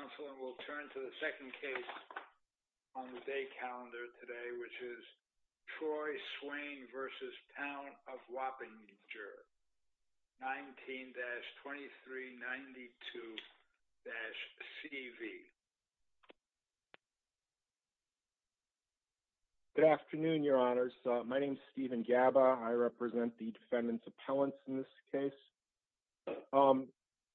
19-2392-CV Good afternoon, your honors. My name is Stephen Gaba. I represent the Defendant's Appellants in this case.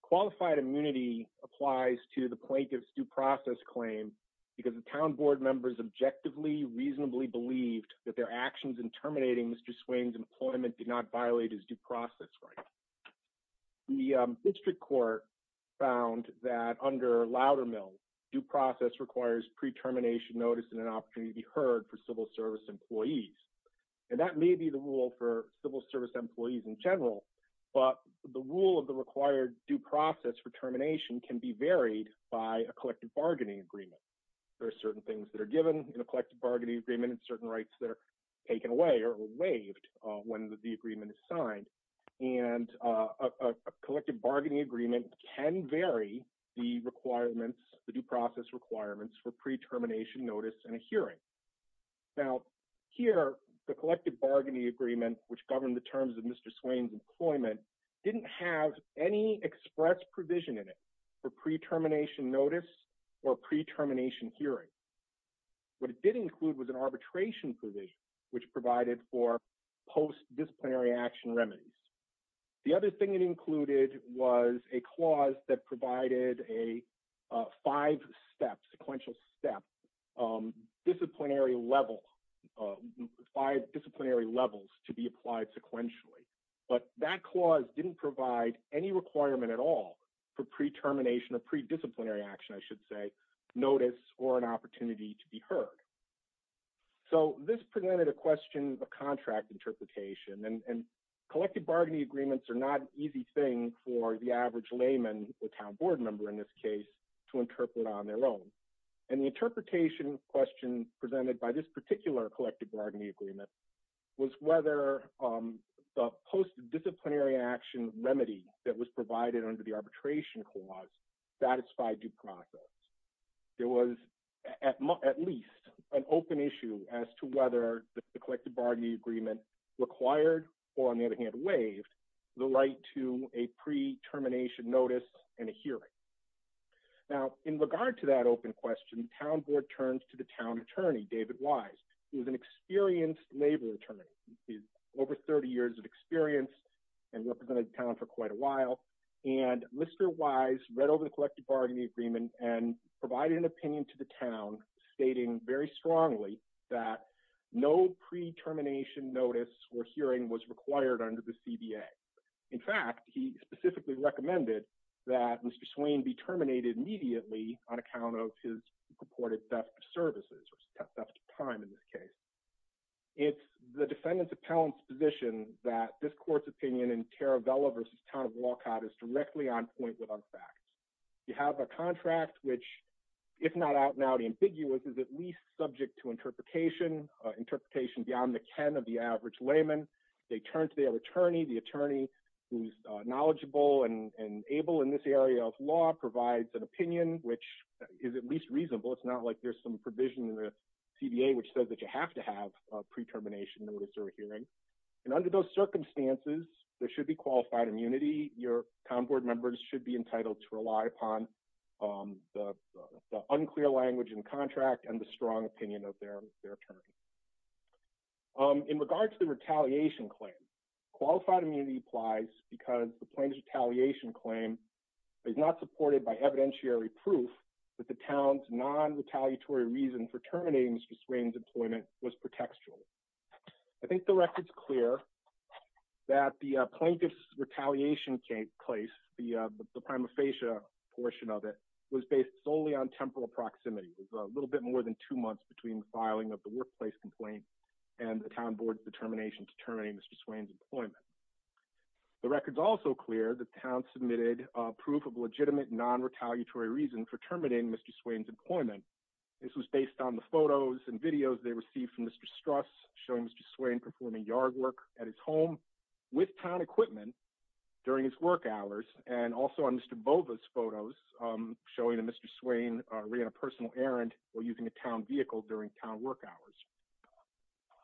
Qualified immunity applies to the plaintiff's due process claim because the town board members objectively reasonably believed that their actions in terminating Mr. Swain's employment did not violate his due process right. The district court found that under Loudermill, due process requires pre-termination notice and an opportunity to be heard for civil service employees. And that may be the rule for civil service employees in general, but the rule of the required due process for termination can be varied by a collective bargaining agreement. There are certain things that are given in a collective bargaining agreement and certain rights that are taken away or waived when the agreement is signed. And a collective bargaining agreement can vary the requirements, the due process requirements for pre-termination notice and a hearing. Now, here, the collective bargaining agreement, which governed the terms of Mr. Swain's employment, didn't have any express provision in it for pre-termination notice or pre-termination hearing. What it did include was an arbitration provision, which provided for post-disciplinary action remedies. The other thing it included was a clause that provided a five-step sequential step. Disciplinary level, five disciplinary levels to be applied sequentially. But that clause didn't provide any requirement at all for pre-termination or pre-disciplinary action, I should say, notice or an opportunity to be heard. So this presented a question of contract interpretation. And collective bargaining agreements are not an easy thing for the average layman, or town board member in this case, to interpret on their own. And the interpretation question presented by this particular collective bargaining agreement was whether the post-disciplinary action remedy that was provided under the arbitration clause satisfied due process. There was at least an open issue as to whether the collective bargaining agreement required, or on the other hand, waived, the right to a pre-termination notice and a hearing. Now, in regard to that open question, the town board turned to the town attorney, David Wise, who is an experienced labor attorney. He's over 30 years of experience and represented the town for quite a while. And Mr. Wise read over the collective bargaining agreement and provided an opinion to the town stating very strongly that no pre-termination notice or hearing was required under the CBA. In fact, he specifically recommended that Mr. Swain be terminated immediately on account of his purported theft of services, or theft of time in this case. It's the defendant's appellant's position that this court's opinion in Taravella versus Town of Walcott is directly on point with unfacts. You have a contract which, if not out and out ambiguous, is at least subject to interpretation, interpretation beyond the ken of the average layman. They turn to their attorney, the attorney who's knowledgeable and able in this area of law provides an opinion, which is at least reasonable. It's not like there's some provision in the CBA which says that you have to have a pre-termination notice or a hearing. And under those circumstances, there should be qualified immunity. Your town board members should be entitled to rely upon the unclear language in contract and the strong opinion of their attorney. In regards to the retaliation claim, qualified immunity applies because the plaintiff's retaliation claim is not supported by evidentiary proof that the town's non-retaliatory reason for terminating Mr. Swain's employment was pretextual. I think the record's clear that the plaintiff's retaliation case, the prima facie portion of it, was based solely on temporal proximity. It was a little bit more than two months between the filing of the workplace complaint and the town board's determination to terminate Mr. Swain's employment. The record's also clear that town submitted a proof of legitimate non-retaliatory reason for terminating Mr. Swain's employment. This was based on the photos and videos they received from Mr. Struss showing Mr. Swain performing yard work at his home with town equipment during his work hours, and also on Mr. Bova's photos showing that Mr. Swain ran a personal errand while using a town vehicle during town work hours.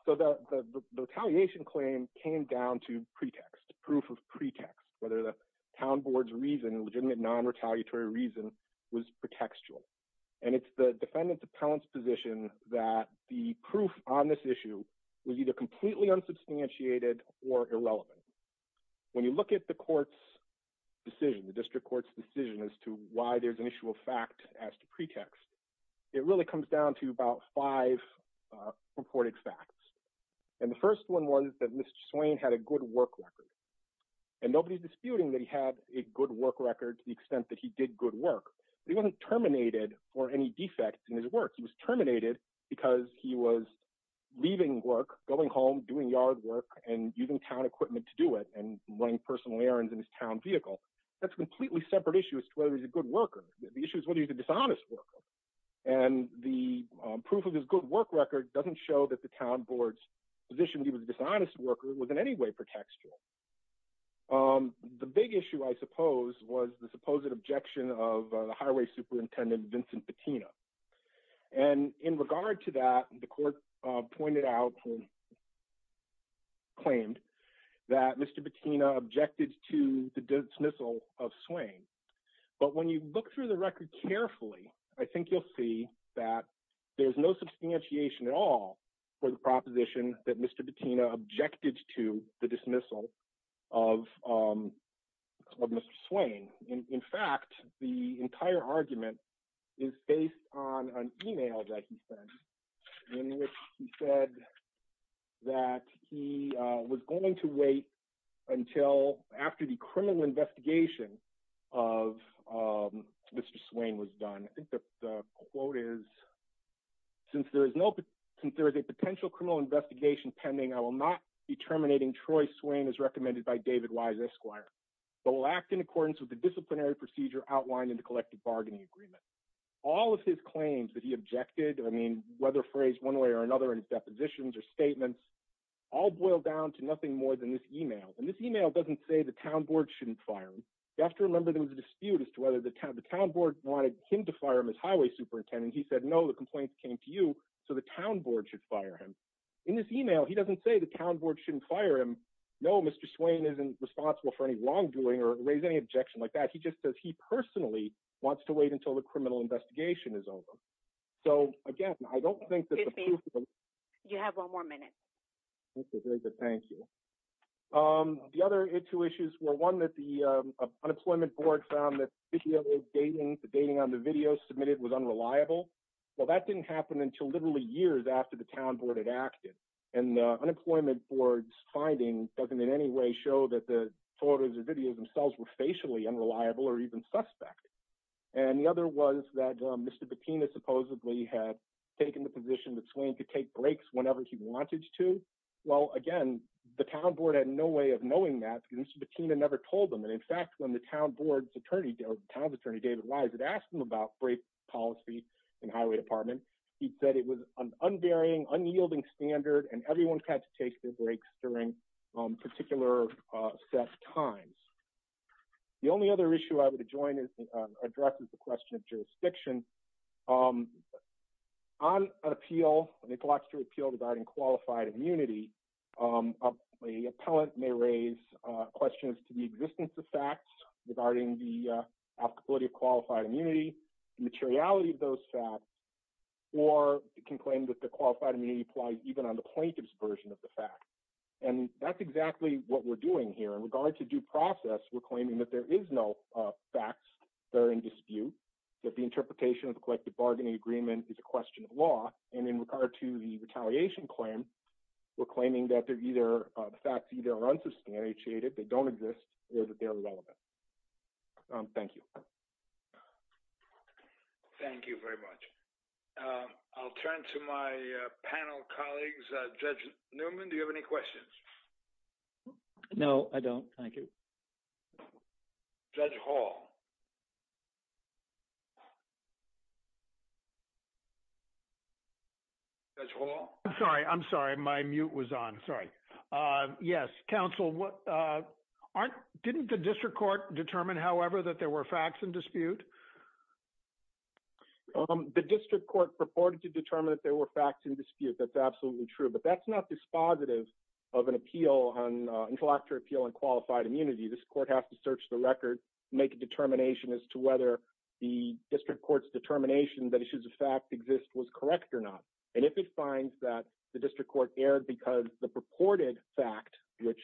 So the retaliation claim came down to pretext, proof of pretext, whether the town board's reason, legitimate non-retaliatory reason, was pretextual. And it's the defendant's appellant's position that the proof on this issue was either completely unsubstantiated or irrelevant. When you look at the court's decision, the district court's decision as to why there's an issue of fact as to pretext, it really comes down to about five reported facts. And the first one was that Mr. Swain had a good work record. And nobody's disputing that he had a good work record to the extent that he did good work, but he wasn't terminated for any defects in his work. He was terminated because he was leaving work, going home, doing yard work, and using town equipment to do it, and running personal errands in his town vehicle. That's a completely separate issue as to whether he's a good worker. The issue is whether he's a dishonest worker. And the proof of his good work record doesn't show that the town board's position that he was a dishonest worker was in any way pretextual. The big issue, I suppose, was the supposed objection of the highway superintendent, Vincent Patina. And in regard to that, the court pointed out and claimed that Mr. Patina objected to the dismissal of Swain. But when you look through the record carefully, I think you'll see that there's no substantiation at all for the proposition that Mr. Patina objected to the dismissal of Mr. Swain. In fact, the entire argument is based on an email that he sent in which he said that he was going to wait until after the criminal investigation of Mr. Swain was done. I think the quote is, since there is a potential criminal investigation pending, I will not be terminating Troy Swain as recommended by David Wise Esquire, but will act in accordance with the disciplinary procedure outlined in the collective bargaining agreement. All of his claims that he objected, I mean, whether phrased one way or another in his depositions or statements, all boil down to nothing more than this email. And this email doesn't say the town board shouldn't fire him. You have to remember there was a dispute as to whether the town board wanted him to fire him as highway superintendent. He said, no, the complaints came to you, so the town board should fire him. In this email, he doesn't say the town board shouldn't fire him. No, Mr. Swain isn't responsible for any wrongdoing or raise any objection like that. He just says he personally wants to wait until the criminal investigation is over. So again, I don't think that the proof of the- You have one more minute. Okay, very good. Thank you. The other two issues were one that the unemployment board found that the dating on the video submitted was unreliable. Well, that didn't happen until literally years after the town board had acted. And the unemployment board's finding doesn't in any way show that the photos or videos themselves were facially unreliable or even suspect. And the other was that Mr. Bettina supposedly had taken the position that Swain could take breaks whenever he wanted to. Well, again, the town board had no way of knowing that because Mr. Bettina never told them. And in fact, when the town's attorney, David Wise, had asked him about break policy in and everyone had to take their breaks during particular set times. The only other issue I would adjoin is addresses the question of jurisdiction. On an appeal, an intellectual appeal regarding qualified immunity, the appellant may raise questions to the existence of facts regarding the applicability of qualified immunity, the materiality of those facts, or can claim that the qualified immunity applies even on the plaintiff's version of the fact. And that's exactly what we're doing here. In regard to due process, we're claiming that there is no facts that are in dispute, that the interpretation of the collective bargaining agreement is a question of law. And in regard to the retaliation claim, we're claiming that they're either, the facts either are unsubstantiated, they don't exist, or that they're irrelevant. Thank you. Thank you very much. I'll turn to my panel colleagues. Judge Newman, do you have any questions? No, I don't. Thank you. Judge Hall. Judge Hall. I'm sorry. I'm sorry. My mute was on. Sorry. Yes, counsel. What aren't, didn't the district court determine, however, that there were facts in dispute? The district court purported to determine that there were facts in dispute. That's absolutely true. But that's not dispositive of an appeal, an intellectual appeal on qualified immunity. This court has to search the record, make a determination as to whether the district court's determination that issues of fact exist was correct or not. And if it finds that the district court erred because the purported fact, which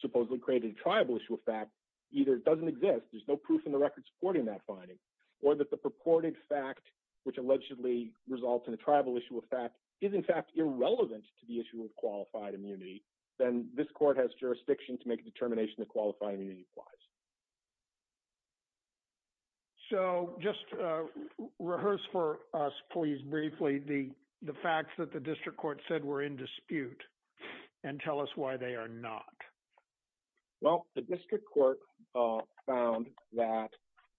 supposedly created a tribal issue of fact, either doesn't exist, there's no proof in the record supporting that finding, or that the purported fact, which allegedly results in a tribal issue of fact, is in fact irrelevant to the issue of qualified immunity, then this court has jurisdiction to make a determination that qualified immunity applies. So just rehearse for us, please, briefly, the facts that the district court said were in dispute and tell us why they are not. Well, the district court found that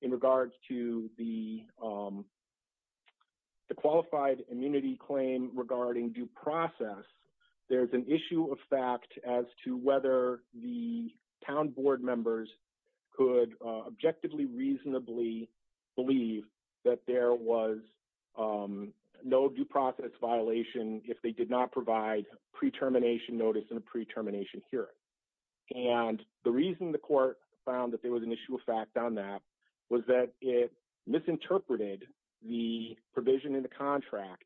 in regards to the qualified immunity claim regarding due process, there's an issue of fact as to whether the town board members could objectively, reasonably believe that there was no due process violation if they did not provide pre-termination notice and a pre-termination hearing. And the reason the court found that there was an issue of fact on that was that it misinterpreted the provision in the contract,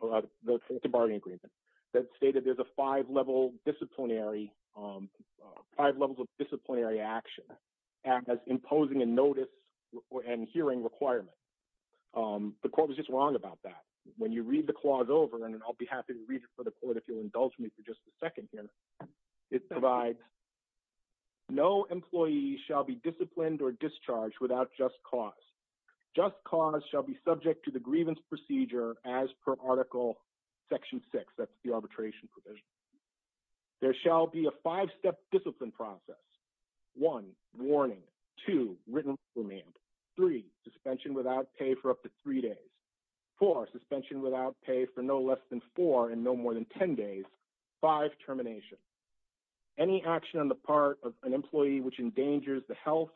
the bargaining agreement, that stated there's a five levels of disciplinary action as imposing a notice and hearing requirement. The court was just wrong about that. When you read the clause over, and I'll be happy to read it for the court if you'll indulge me for just a second here, it provides, no employee shall be disciplined or discharged without just cause. Just cause shall be subject to the grievance procedure as per Article Section 6, that's the arbitration provision. There shall be a five-step discipline process. One, warning. Two, written remand. Three, suspension without pay for up to three days. Four, suspension without pay for no less than four and no more than 10 days. Five, termination. Any action on the part of an employee which endangers the health,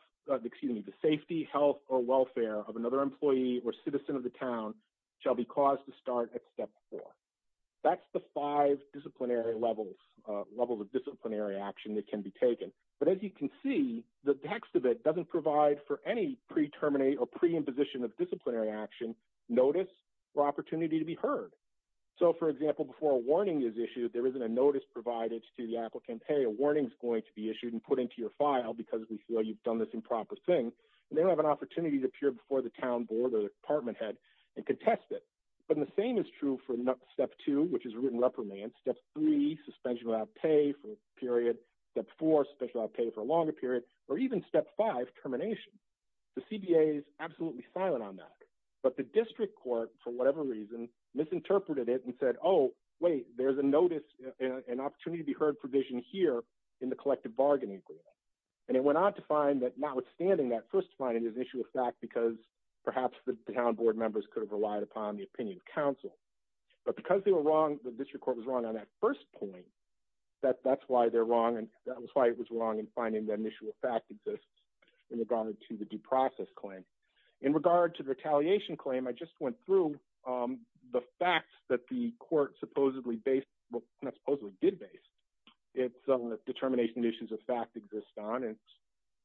excuse me, the safety, health, or welfare of another employee or citizen of the town shall be caused to start at step four. That's the five disciplinary levels, levels of disciplinary action that can be taken. But as you can see, the text of it doesn't provide for any pre-terminate or pre-imposition of disciplinary action, notice, or opportunity to be heard. So for example, before a warning is issued, there isn't a notice provided to the applicant, hey, a warning's going to be issued and put into your file because we feel you've done this improper thing. And they don't have an opportunity to appear before the town board or the department head and contest it. But the same is true for step two, which is written reprimand. Step three, suspension without pay for a period. Step four, suspension without pay for a longer period. Or even step five, termination. The CBA is absolutely silent on that. But the district court, for whatever reason, misinterpreted it and said, oh, wait, there's a notice, an opportunity to be heard provision here in the collective bargaining agreement. And it went on to find that notwithstanding that first finding is an issue of fact because perhaps the town board members could have relied upon the opinion of council. But because the district court was wrong on that first point, that's why it was wrong in finding that initial fact exists in regard to the due process claim. In regard to the retaliation claim, I just went through the facts that the court supposedly based, well, not supposedly did base, it's on the determination issues of fact exist on. And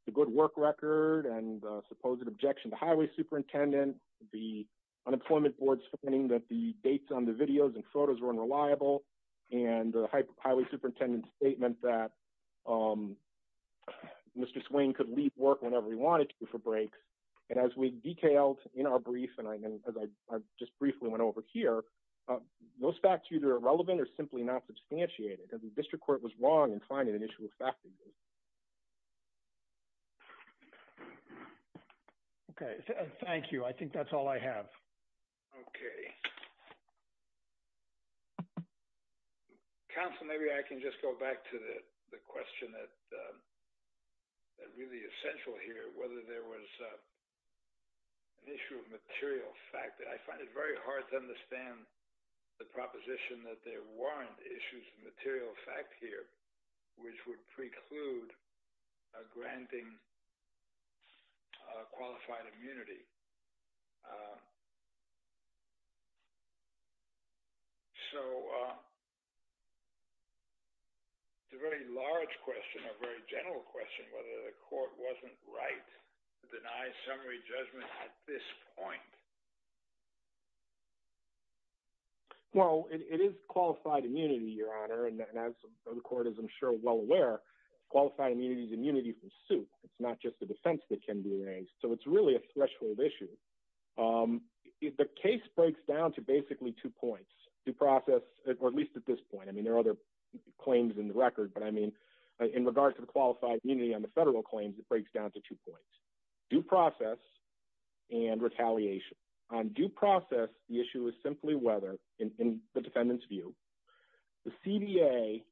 the good work record and the supposed objection to highway superintendent, the unemployment board's finding that the dates on the videos and photos were unreliable, and the highway superintendent's statement that Mr. Swain could leave work whenever he wanted to for breaks. And as we detailed in our brief, and as I just briefly went over here, those facts either are relevant or simply not substantiated. And the district court was wrong in finding an issue of fact exist. Okay. Thank you. I think that's all I have. Okay. Council, maybe I can just go back to the question that really essential here, whether there was an issue of material fact that I find it very hard to understand the proposition that there weren't issues of material fact here, which would preclude granting qualified immunity. So it's a very large question, a very general question, whether the court wasn't right to deny summary judgment at this point. Well, it is qualified immunity, Your Honor. And as the court is, I'm sure well aware, qualified immunity is immunity from suit. It's not just the defense that can be raised. So it's really a threshold issue. The case breaks down to basically two points, due process, or at least at this point. I mean, there are other claims in the record, but I mean, in regards to the qualified immunity on the federal claims, it breaks down to two points, due process and retaliation. On due process, the issue is simply whether in the defendant's view, the CDA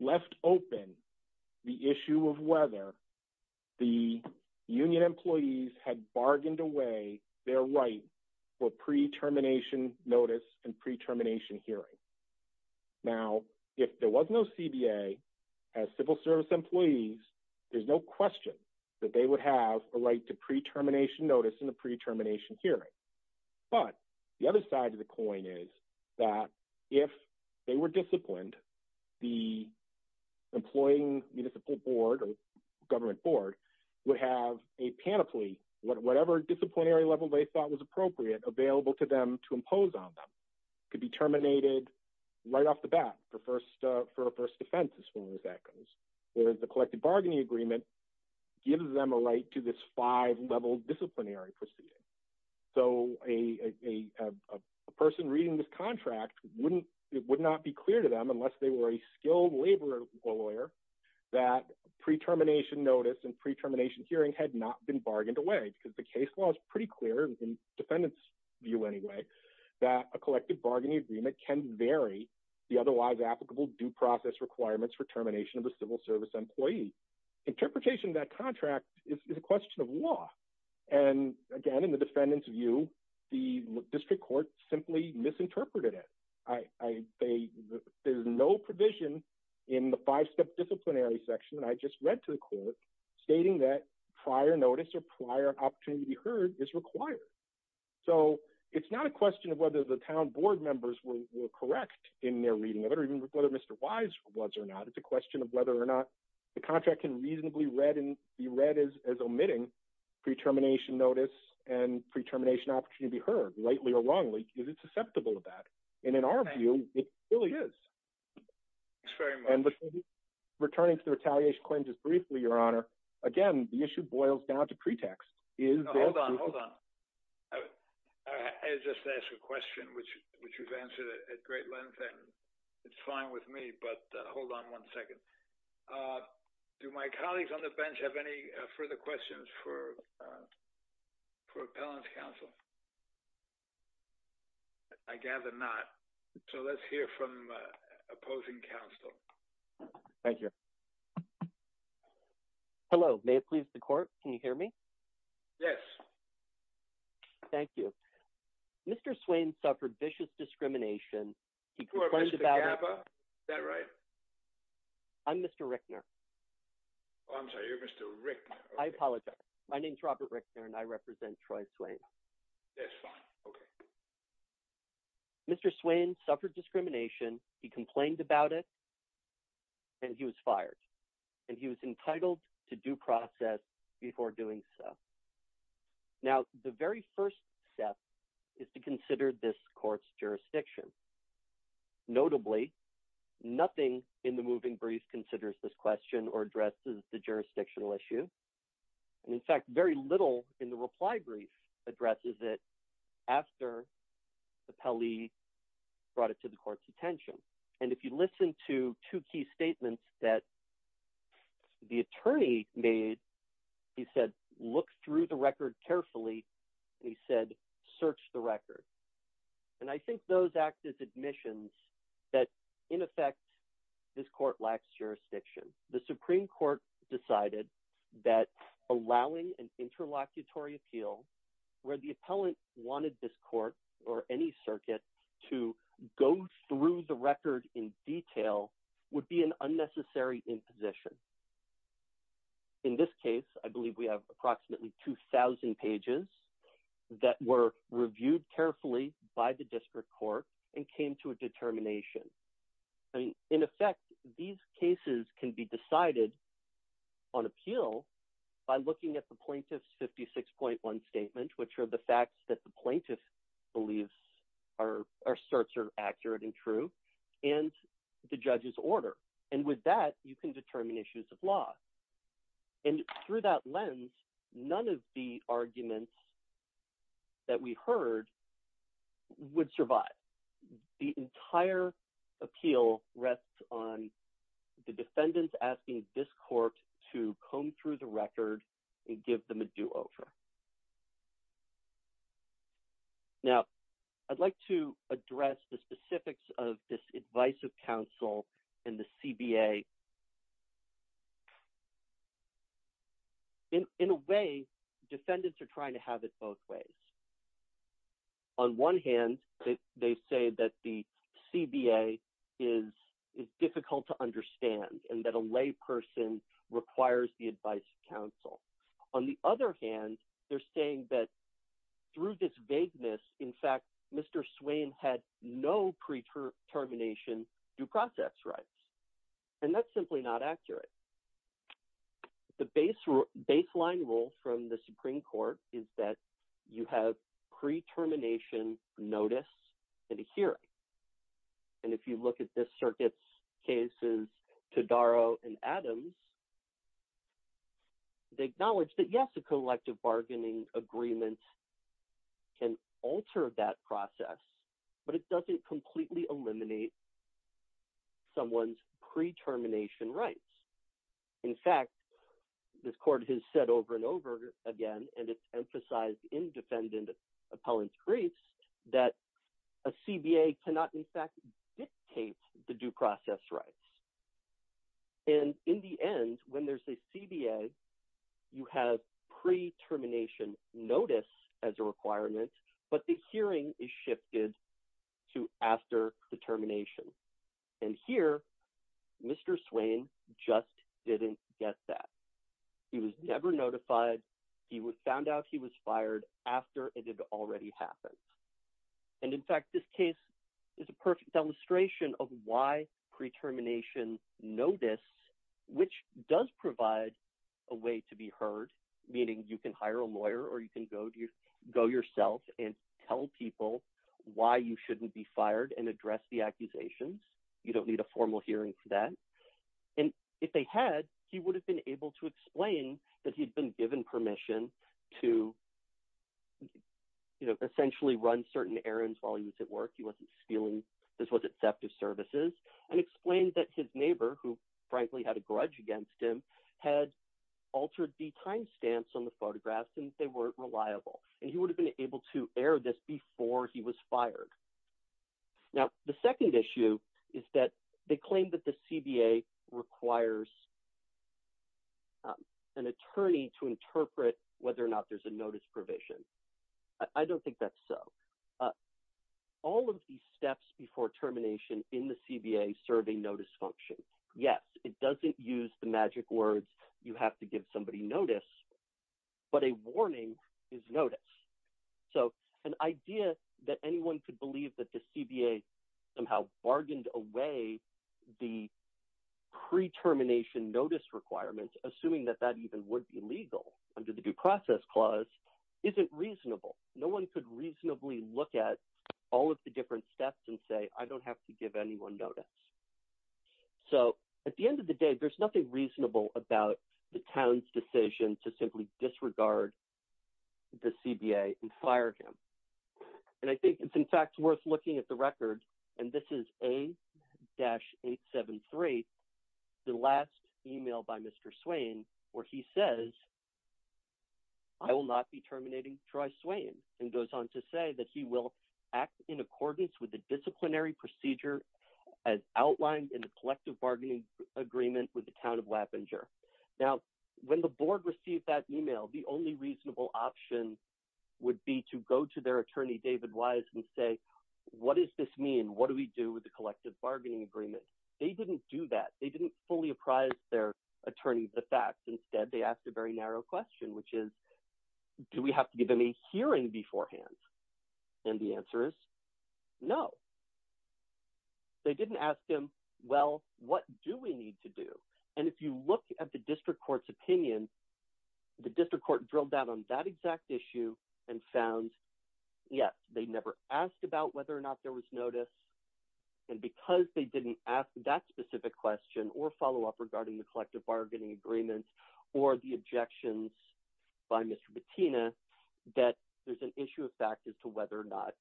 left open the issue of whether the union employees had bargained away their right for pre-termination notice and pre-termination hearing. Now, if there was no CBA as civil service employees, there's no question that they would have a right to pre-termination notice in the pre-termination hearing. But the other side of the coin is that if they were disciplined, the employing municipal board or government board would have a panoply, whatever disciplinary level they thought was appropriate available to them to impose on them, could be terminated right off the bat for a first offense as far as that goes. Whereas the collective bargaining agreement gives them a right to this five-level disciplinary proceeding. So a person reading this contract, it would not be clear to them unless they were a skilled labor lawyer that pre-termination notice and pre-termination hearing had not been bargained away because the case law is pretty clear in defendant's view anyway, that a collective bargaining agreement can vary the otherwise applicable due process requirements for termination of a civil service employee. Interpretation of that contract is a question of law. And again, in the defendant's view, the district court simply misinterpreted it. There's no provision in the five-step disciplinary section that I just read to the court stating that prior notice or prior opportunity heard is required. So it's not a question of whether the town board members were correct in their reading of it or even whether Mr. Wise was or not. It's a question of whether or not the contract can reasonably read and be read as omitting pre-termination notice and pre-termination opportunity to be heard. Rightly or wrongly, is it susceptible to that? And in our view, it really is. Thanks very much. And returning to the retaliation claims just briefly, Your Honor, again, the issue boils down to pretext. Hold on, hold on. I just asked a question which you've answered at great length and it's fine with me, but hold on one second. Do my colleagues on the bench have any further questions for Appellant's counsel? I gather not. So let's hear from opposing counsel. Thank you. Hello. May it please the court? Can you hear me? Yes. Thank you. Mr. Swain suffered vicious discrimination. Before Mr. Gappa. Is that right? I'm Mr. Rickner. Oh, I'm sorry. You're Mr. Rickner. I apologize. My name is Robert Rickner and I represent Troy Swain. That's fine. Okay. Mr. Swain suffered discrimination. He complained about it and he was fired and he was entitled to due process before doing so. Now, the very first step is to consider this court's jurisdiction. Notably, nothing in the moving brief considers this question or addresses the jurisdictional issue. And in fact, very little in the reply brief addresses it after Appellee brought it to the court's attention. And if you listen to two key statements that the attorney made, he said, look through the record carefully, and he said, search the record. And I think those act as admissions that in effect, this court lacks jurisdiction. The Supreme Court decided that allowing an interlocutory appeal where the appellant wanted this court or any circuit to go through the record in detail would be an unnecessary imposition. In this case, I believe we have approximately 2000 pages that were reviewed carefully by the district court and came to a determination. I mean, in effect, these cases can be decided on appeal by looking at the plaintiff's 56.1 statement, which are the facts that the plaintiff believes are asserts are accurate and true and the judge's order. And with that, you can determine issues of law. And through that lens, none of the arguments that we heard would survive. The entire appeal rests on the defendants asking this court to comb through the record and give them a do over. Now, I'd like to address the specifics of this advice of counsel and the CBA. In a way, defendants are trying to have it both ways. On one hand, they say that the CBA is difficult to understand and that a lay person requires the advice of counsel. On the other hand, they're saying that through this vagueness, in fact, Mr. Swain had no pre-termination due process rights. And that's simply not accurate. The baseline rule from the Supreme Court is that you have pre-termination notice and a hearing. And if you look at this circuit's cases, Todaro and Adams, they acknowledge that, yes, a collective bargaining agreement can alter that process, but it doesn't completely eliminate someone's pre-termination rights. In fact, this court has said over and over again, and it's emphasized in defendant appellant briefs, that a CBA cannot, in fact, dictate the due process rights. And in the end, when there's a CBA, you have pre-termination notice as a requirement, but the hearing is shifted to after the termination. And here, Mr. Swain just didn't get that. He was never notified. He found out he was fired after it had already happened. And in fact, this case is a perfect illustration of why pre-termination notice, which does provide a way to be heard, meaning you can hire a lawyer or you can go yourself and tell people why you shouldn't be fired and address the accusations. You don't need a formal hearing for that. And if they had, he would have been able to explain that he'd been given permission to essentially run certain errands while he was at work. He wasn't stealing. This wasn't theft of services. And explain that his neighbor, who frankly had a grudge against him, had altered the time stamps on the photographs since they weren't reliable. Now, the second issue is that they claim that the CBA requires an attorney to interpret whether or not there's a notice provision. I don't think that's so. All of these steps before termination in the CBA serve a notice function. Yes, it doesn't use the magic words, you have to give somebody notice. But a warning is notice. So an idea that anyone could believe that the CBA somehow bargained away the pre-termination notice requirements, assuming that that even would be legal under the Due Process Clause, isn't reasonable. No one could reasonably look at all of the different steps and say, I don't have to give anyone notice. So at the end of the day, there's nothing reasonable about the town's decision to simply disregard the CBA and fire him. And I think it's in fact worth looking at the record, and this is A-873, the last email by Mr. Swain, where he says, I will not be terminating Troy Swain, and goes on to say that he will act in accordance with the disciplinary procedure as outlined in the collective bargaining agreement with the town of Wappinger. Now, when the board received that email, the only reasonable option would be to go to their attorney, David Wise, and say, what does this mean? What do we do with the collective bargaining agreement? They didn't do that. They didn't fully apprise their attorney of the facts. Instead, they asked a very narrow question, which is, do we have to give them a hearing beforehand? And the answer is no. They didn't ask him, well, what do we need to do? And if you look at the district court's opinion, the district court drilled down on that exact issue and found, yes, they never asked about whether or not there was notice. And because they didn't ask that specific question or follow up regarding the collective bargaining agreement or the objections by Mr. Bettina, that there's an issue of fact as to whether or not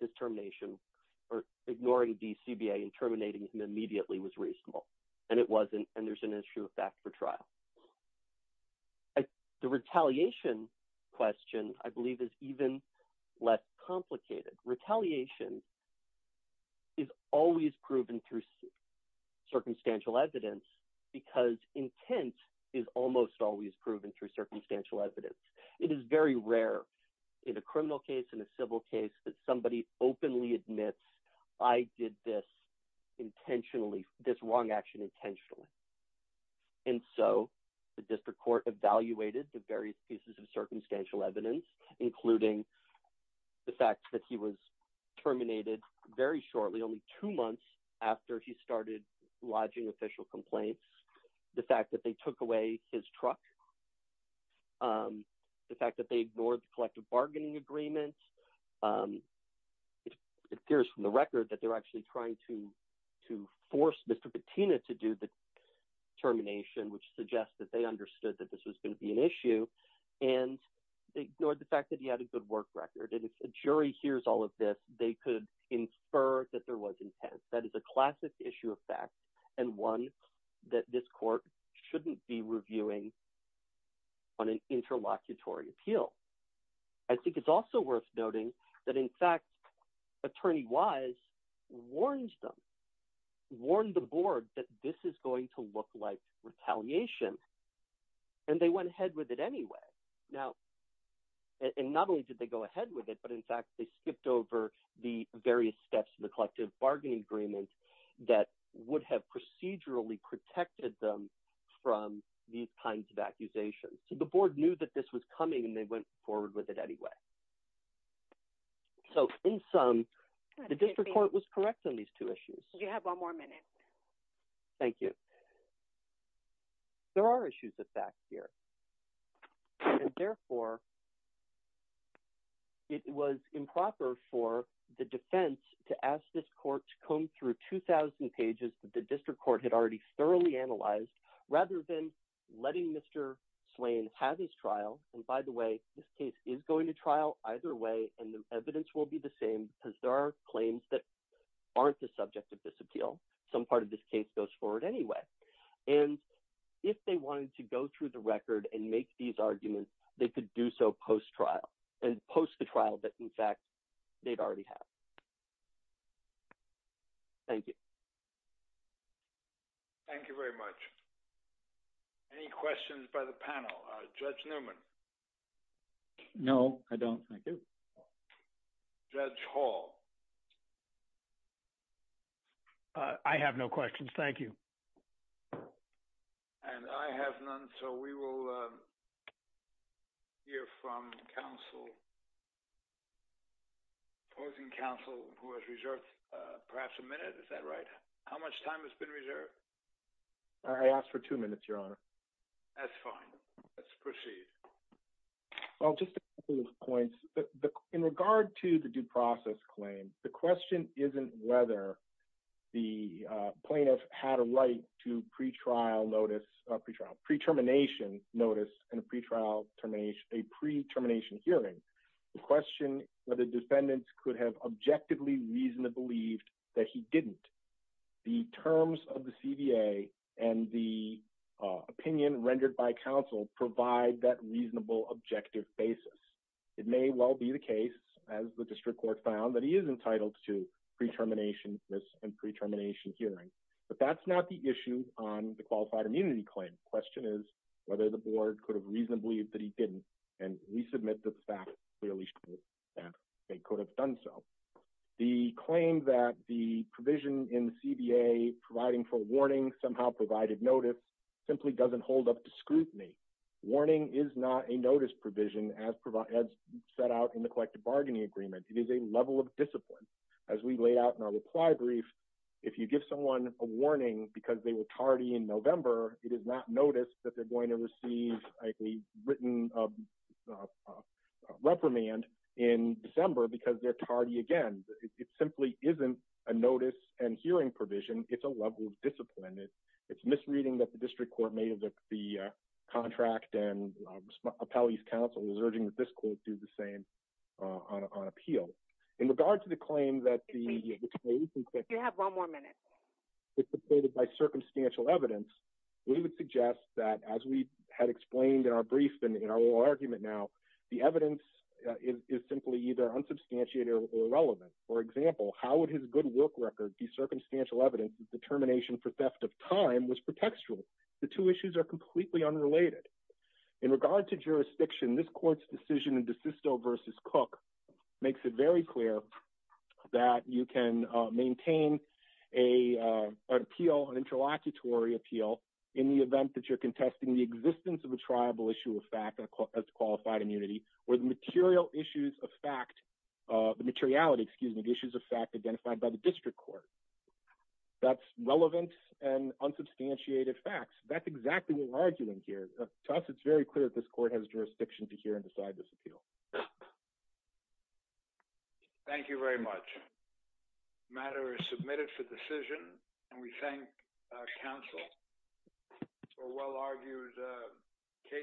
his termination or ignoring the CBA and terminating him immediately was reasonable. And it wasn't, and there's an issue of fact for trial. The retaliation question, I believe, is even less complicated. Retaliation is always proven through circumstantial evidence because intent is almost always proven through circumstantial evidence. It is very rare in a criminal case, in a civil case, that somebody openly admits, I did this intentionally, this wrong action intentionally. And so the district court evaluated the various pieces of circumstantial evidence, including the fact that he was terminated very shortly, only two months after he started lodging official complaints, the fact that they took away his truck, the fact that they ignored the collective bargaining agreement. It appears from the record that they're actually trying to force Mr. Bettina to do the termination, which suggests that they understood that this was going to be an issue. And they ignored the fact that he had a good work record. And if a jury hears all of this, they could infer that there was intent. That is a classic issue of fact and one that this court shouldn't be reviewing on an interlocutory appeal. I think it's also worth noting that, in fact, Attorney Wise warned them, warned the board that this is going to look like retaliation. And they went ahead with it anyway. Now, and not only did they go ahead with it, but in fact, they skipped over the various steps in the collective bargaining agreement that would have procedurally protected them from these kinds of accusations. So the board knew that this was coming, and they went forward with it anyway. So in sum, the district court was correct on these two issues. Do you have one more minute? Thank you. There are issues of fact here. And therefore, it was improper for the defense to ask this court to comb through 2,000 pages that the district court had already thoroughly analyzed rather than letting Mr. Swain have his trial. And by the way, this case is going to trial either way. And the evidence will be the same because there are claims that aren't the subject of this appeal. Some part of this case goes forward anyway. And if they wanted to go through the record and make these arguments, they could do so post-trial and post the trial that, in fact, they'd already have. Thank you. Thank you very much. Any questions by the panel? Judge Newman? No, I don't. Thank you. Judge Hall? I have no questions. Thank you. And I have none. So we will hear from counsel, opposing counsel who has reserved perhaps a minute. Is that right? How much time has been reserved? I asked for two minutes, Your Honor. That's fine. Let's proceed. Well, just a couple of points. In regard to the due process claim, the question isn't whether the plaintiff had a right to pre-trial notice, pre-trial, pre-termination notice and a pre-trial termination, a pre-termination hearing. The question whether defendants could have objectively reason to believe that he didn't. The terms of the CBA and the opinion rendered by counsel provide that reasonable, objective basis. It may well be the case, as the district court found, that he is entitled to pre-termination notice and pre-termination hearing. But that's not the issue on the qualified immunity claim. Question is whether the board could have reasonably believed that he didn't. And we submit that the fact clearly shows that they could have done so. The claim that the provision in the CBA providing for a warning somehow provided notice simply doesn't hold up to scrutiny. Warning is not a notice provision as set out in the collective bargaining agreement. It is a level of discipline. As we laid out in our reply brief, if you give someone a warning because they were tardy in November, it is not notice that they're going to receive a written reprimand in December because they're tardy again. It simply isn't a notice and hearing provision. It's a level of discipline. It's misreading that the district court made of the contract and appellee's counsel is urging that this court do the same on appeal. In regard to the claim that the... You have one more minute. It's supported by circumstantial evidence. We would suggest that, as we had explained in our brief and in our argument now, the irrelevant. For example, how would his good work record be circumstantial evidence that the termination for theft of time was pretextual? The two issues are completely unrelated. In regard to jurisdiction, this court's decision in DeSisto v. Cook makes it very clear that you can maintain an appeal, an interlocutory appeal, in the event that you're contesting the existence of a triable issue of fact as qualified immunity where the material issues of fact, the materiality, excuse me, issues of fact identified by the district court. That's relevant and unsubstantiated facts. That's exactly what we're arguing here. To us, it's very clear that this court has jurisdiction to hear and decide this appeal. Thank you very much. The matter is submitted for decision, and we thank counsel for a well-argued case.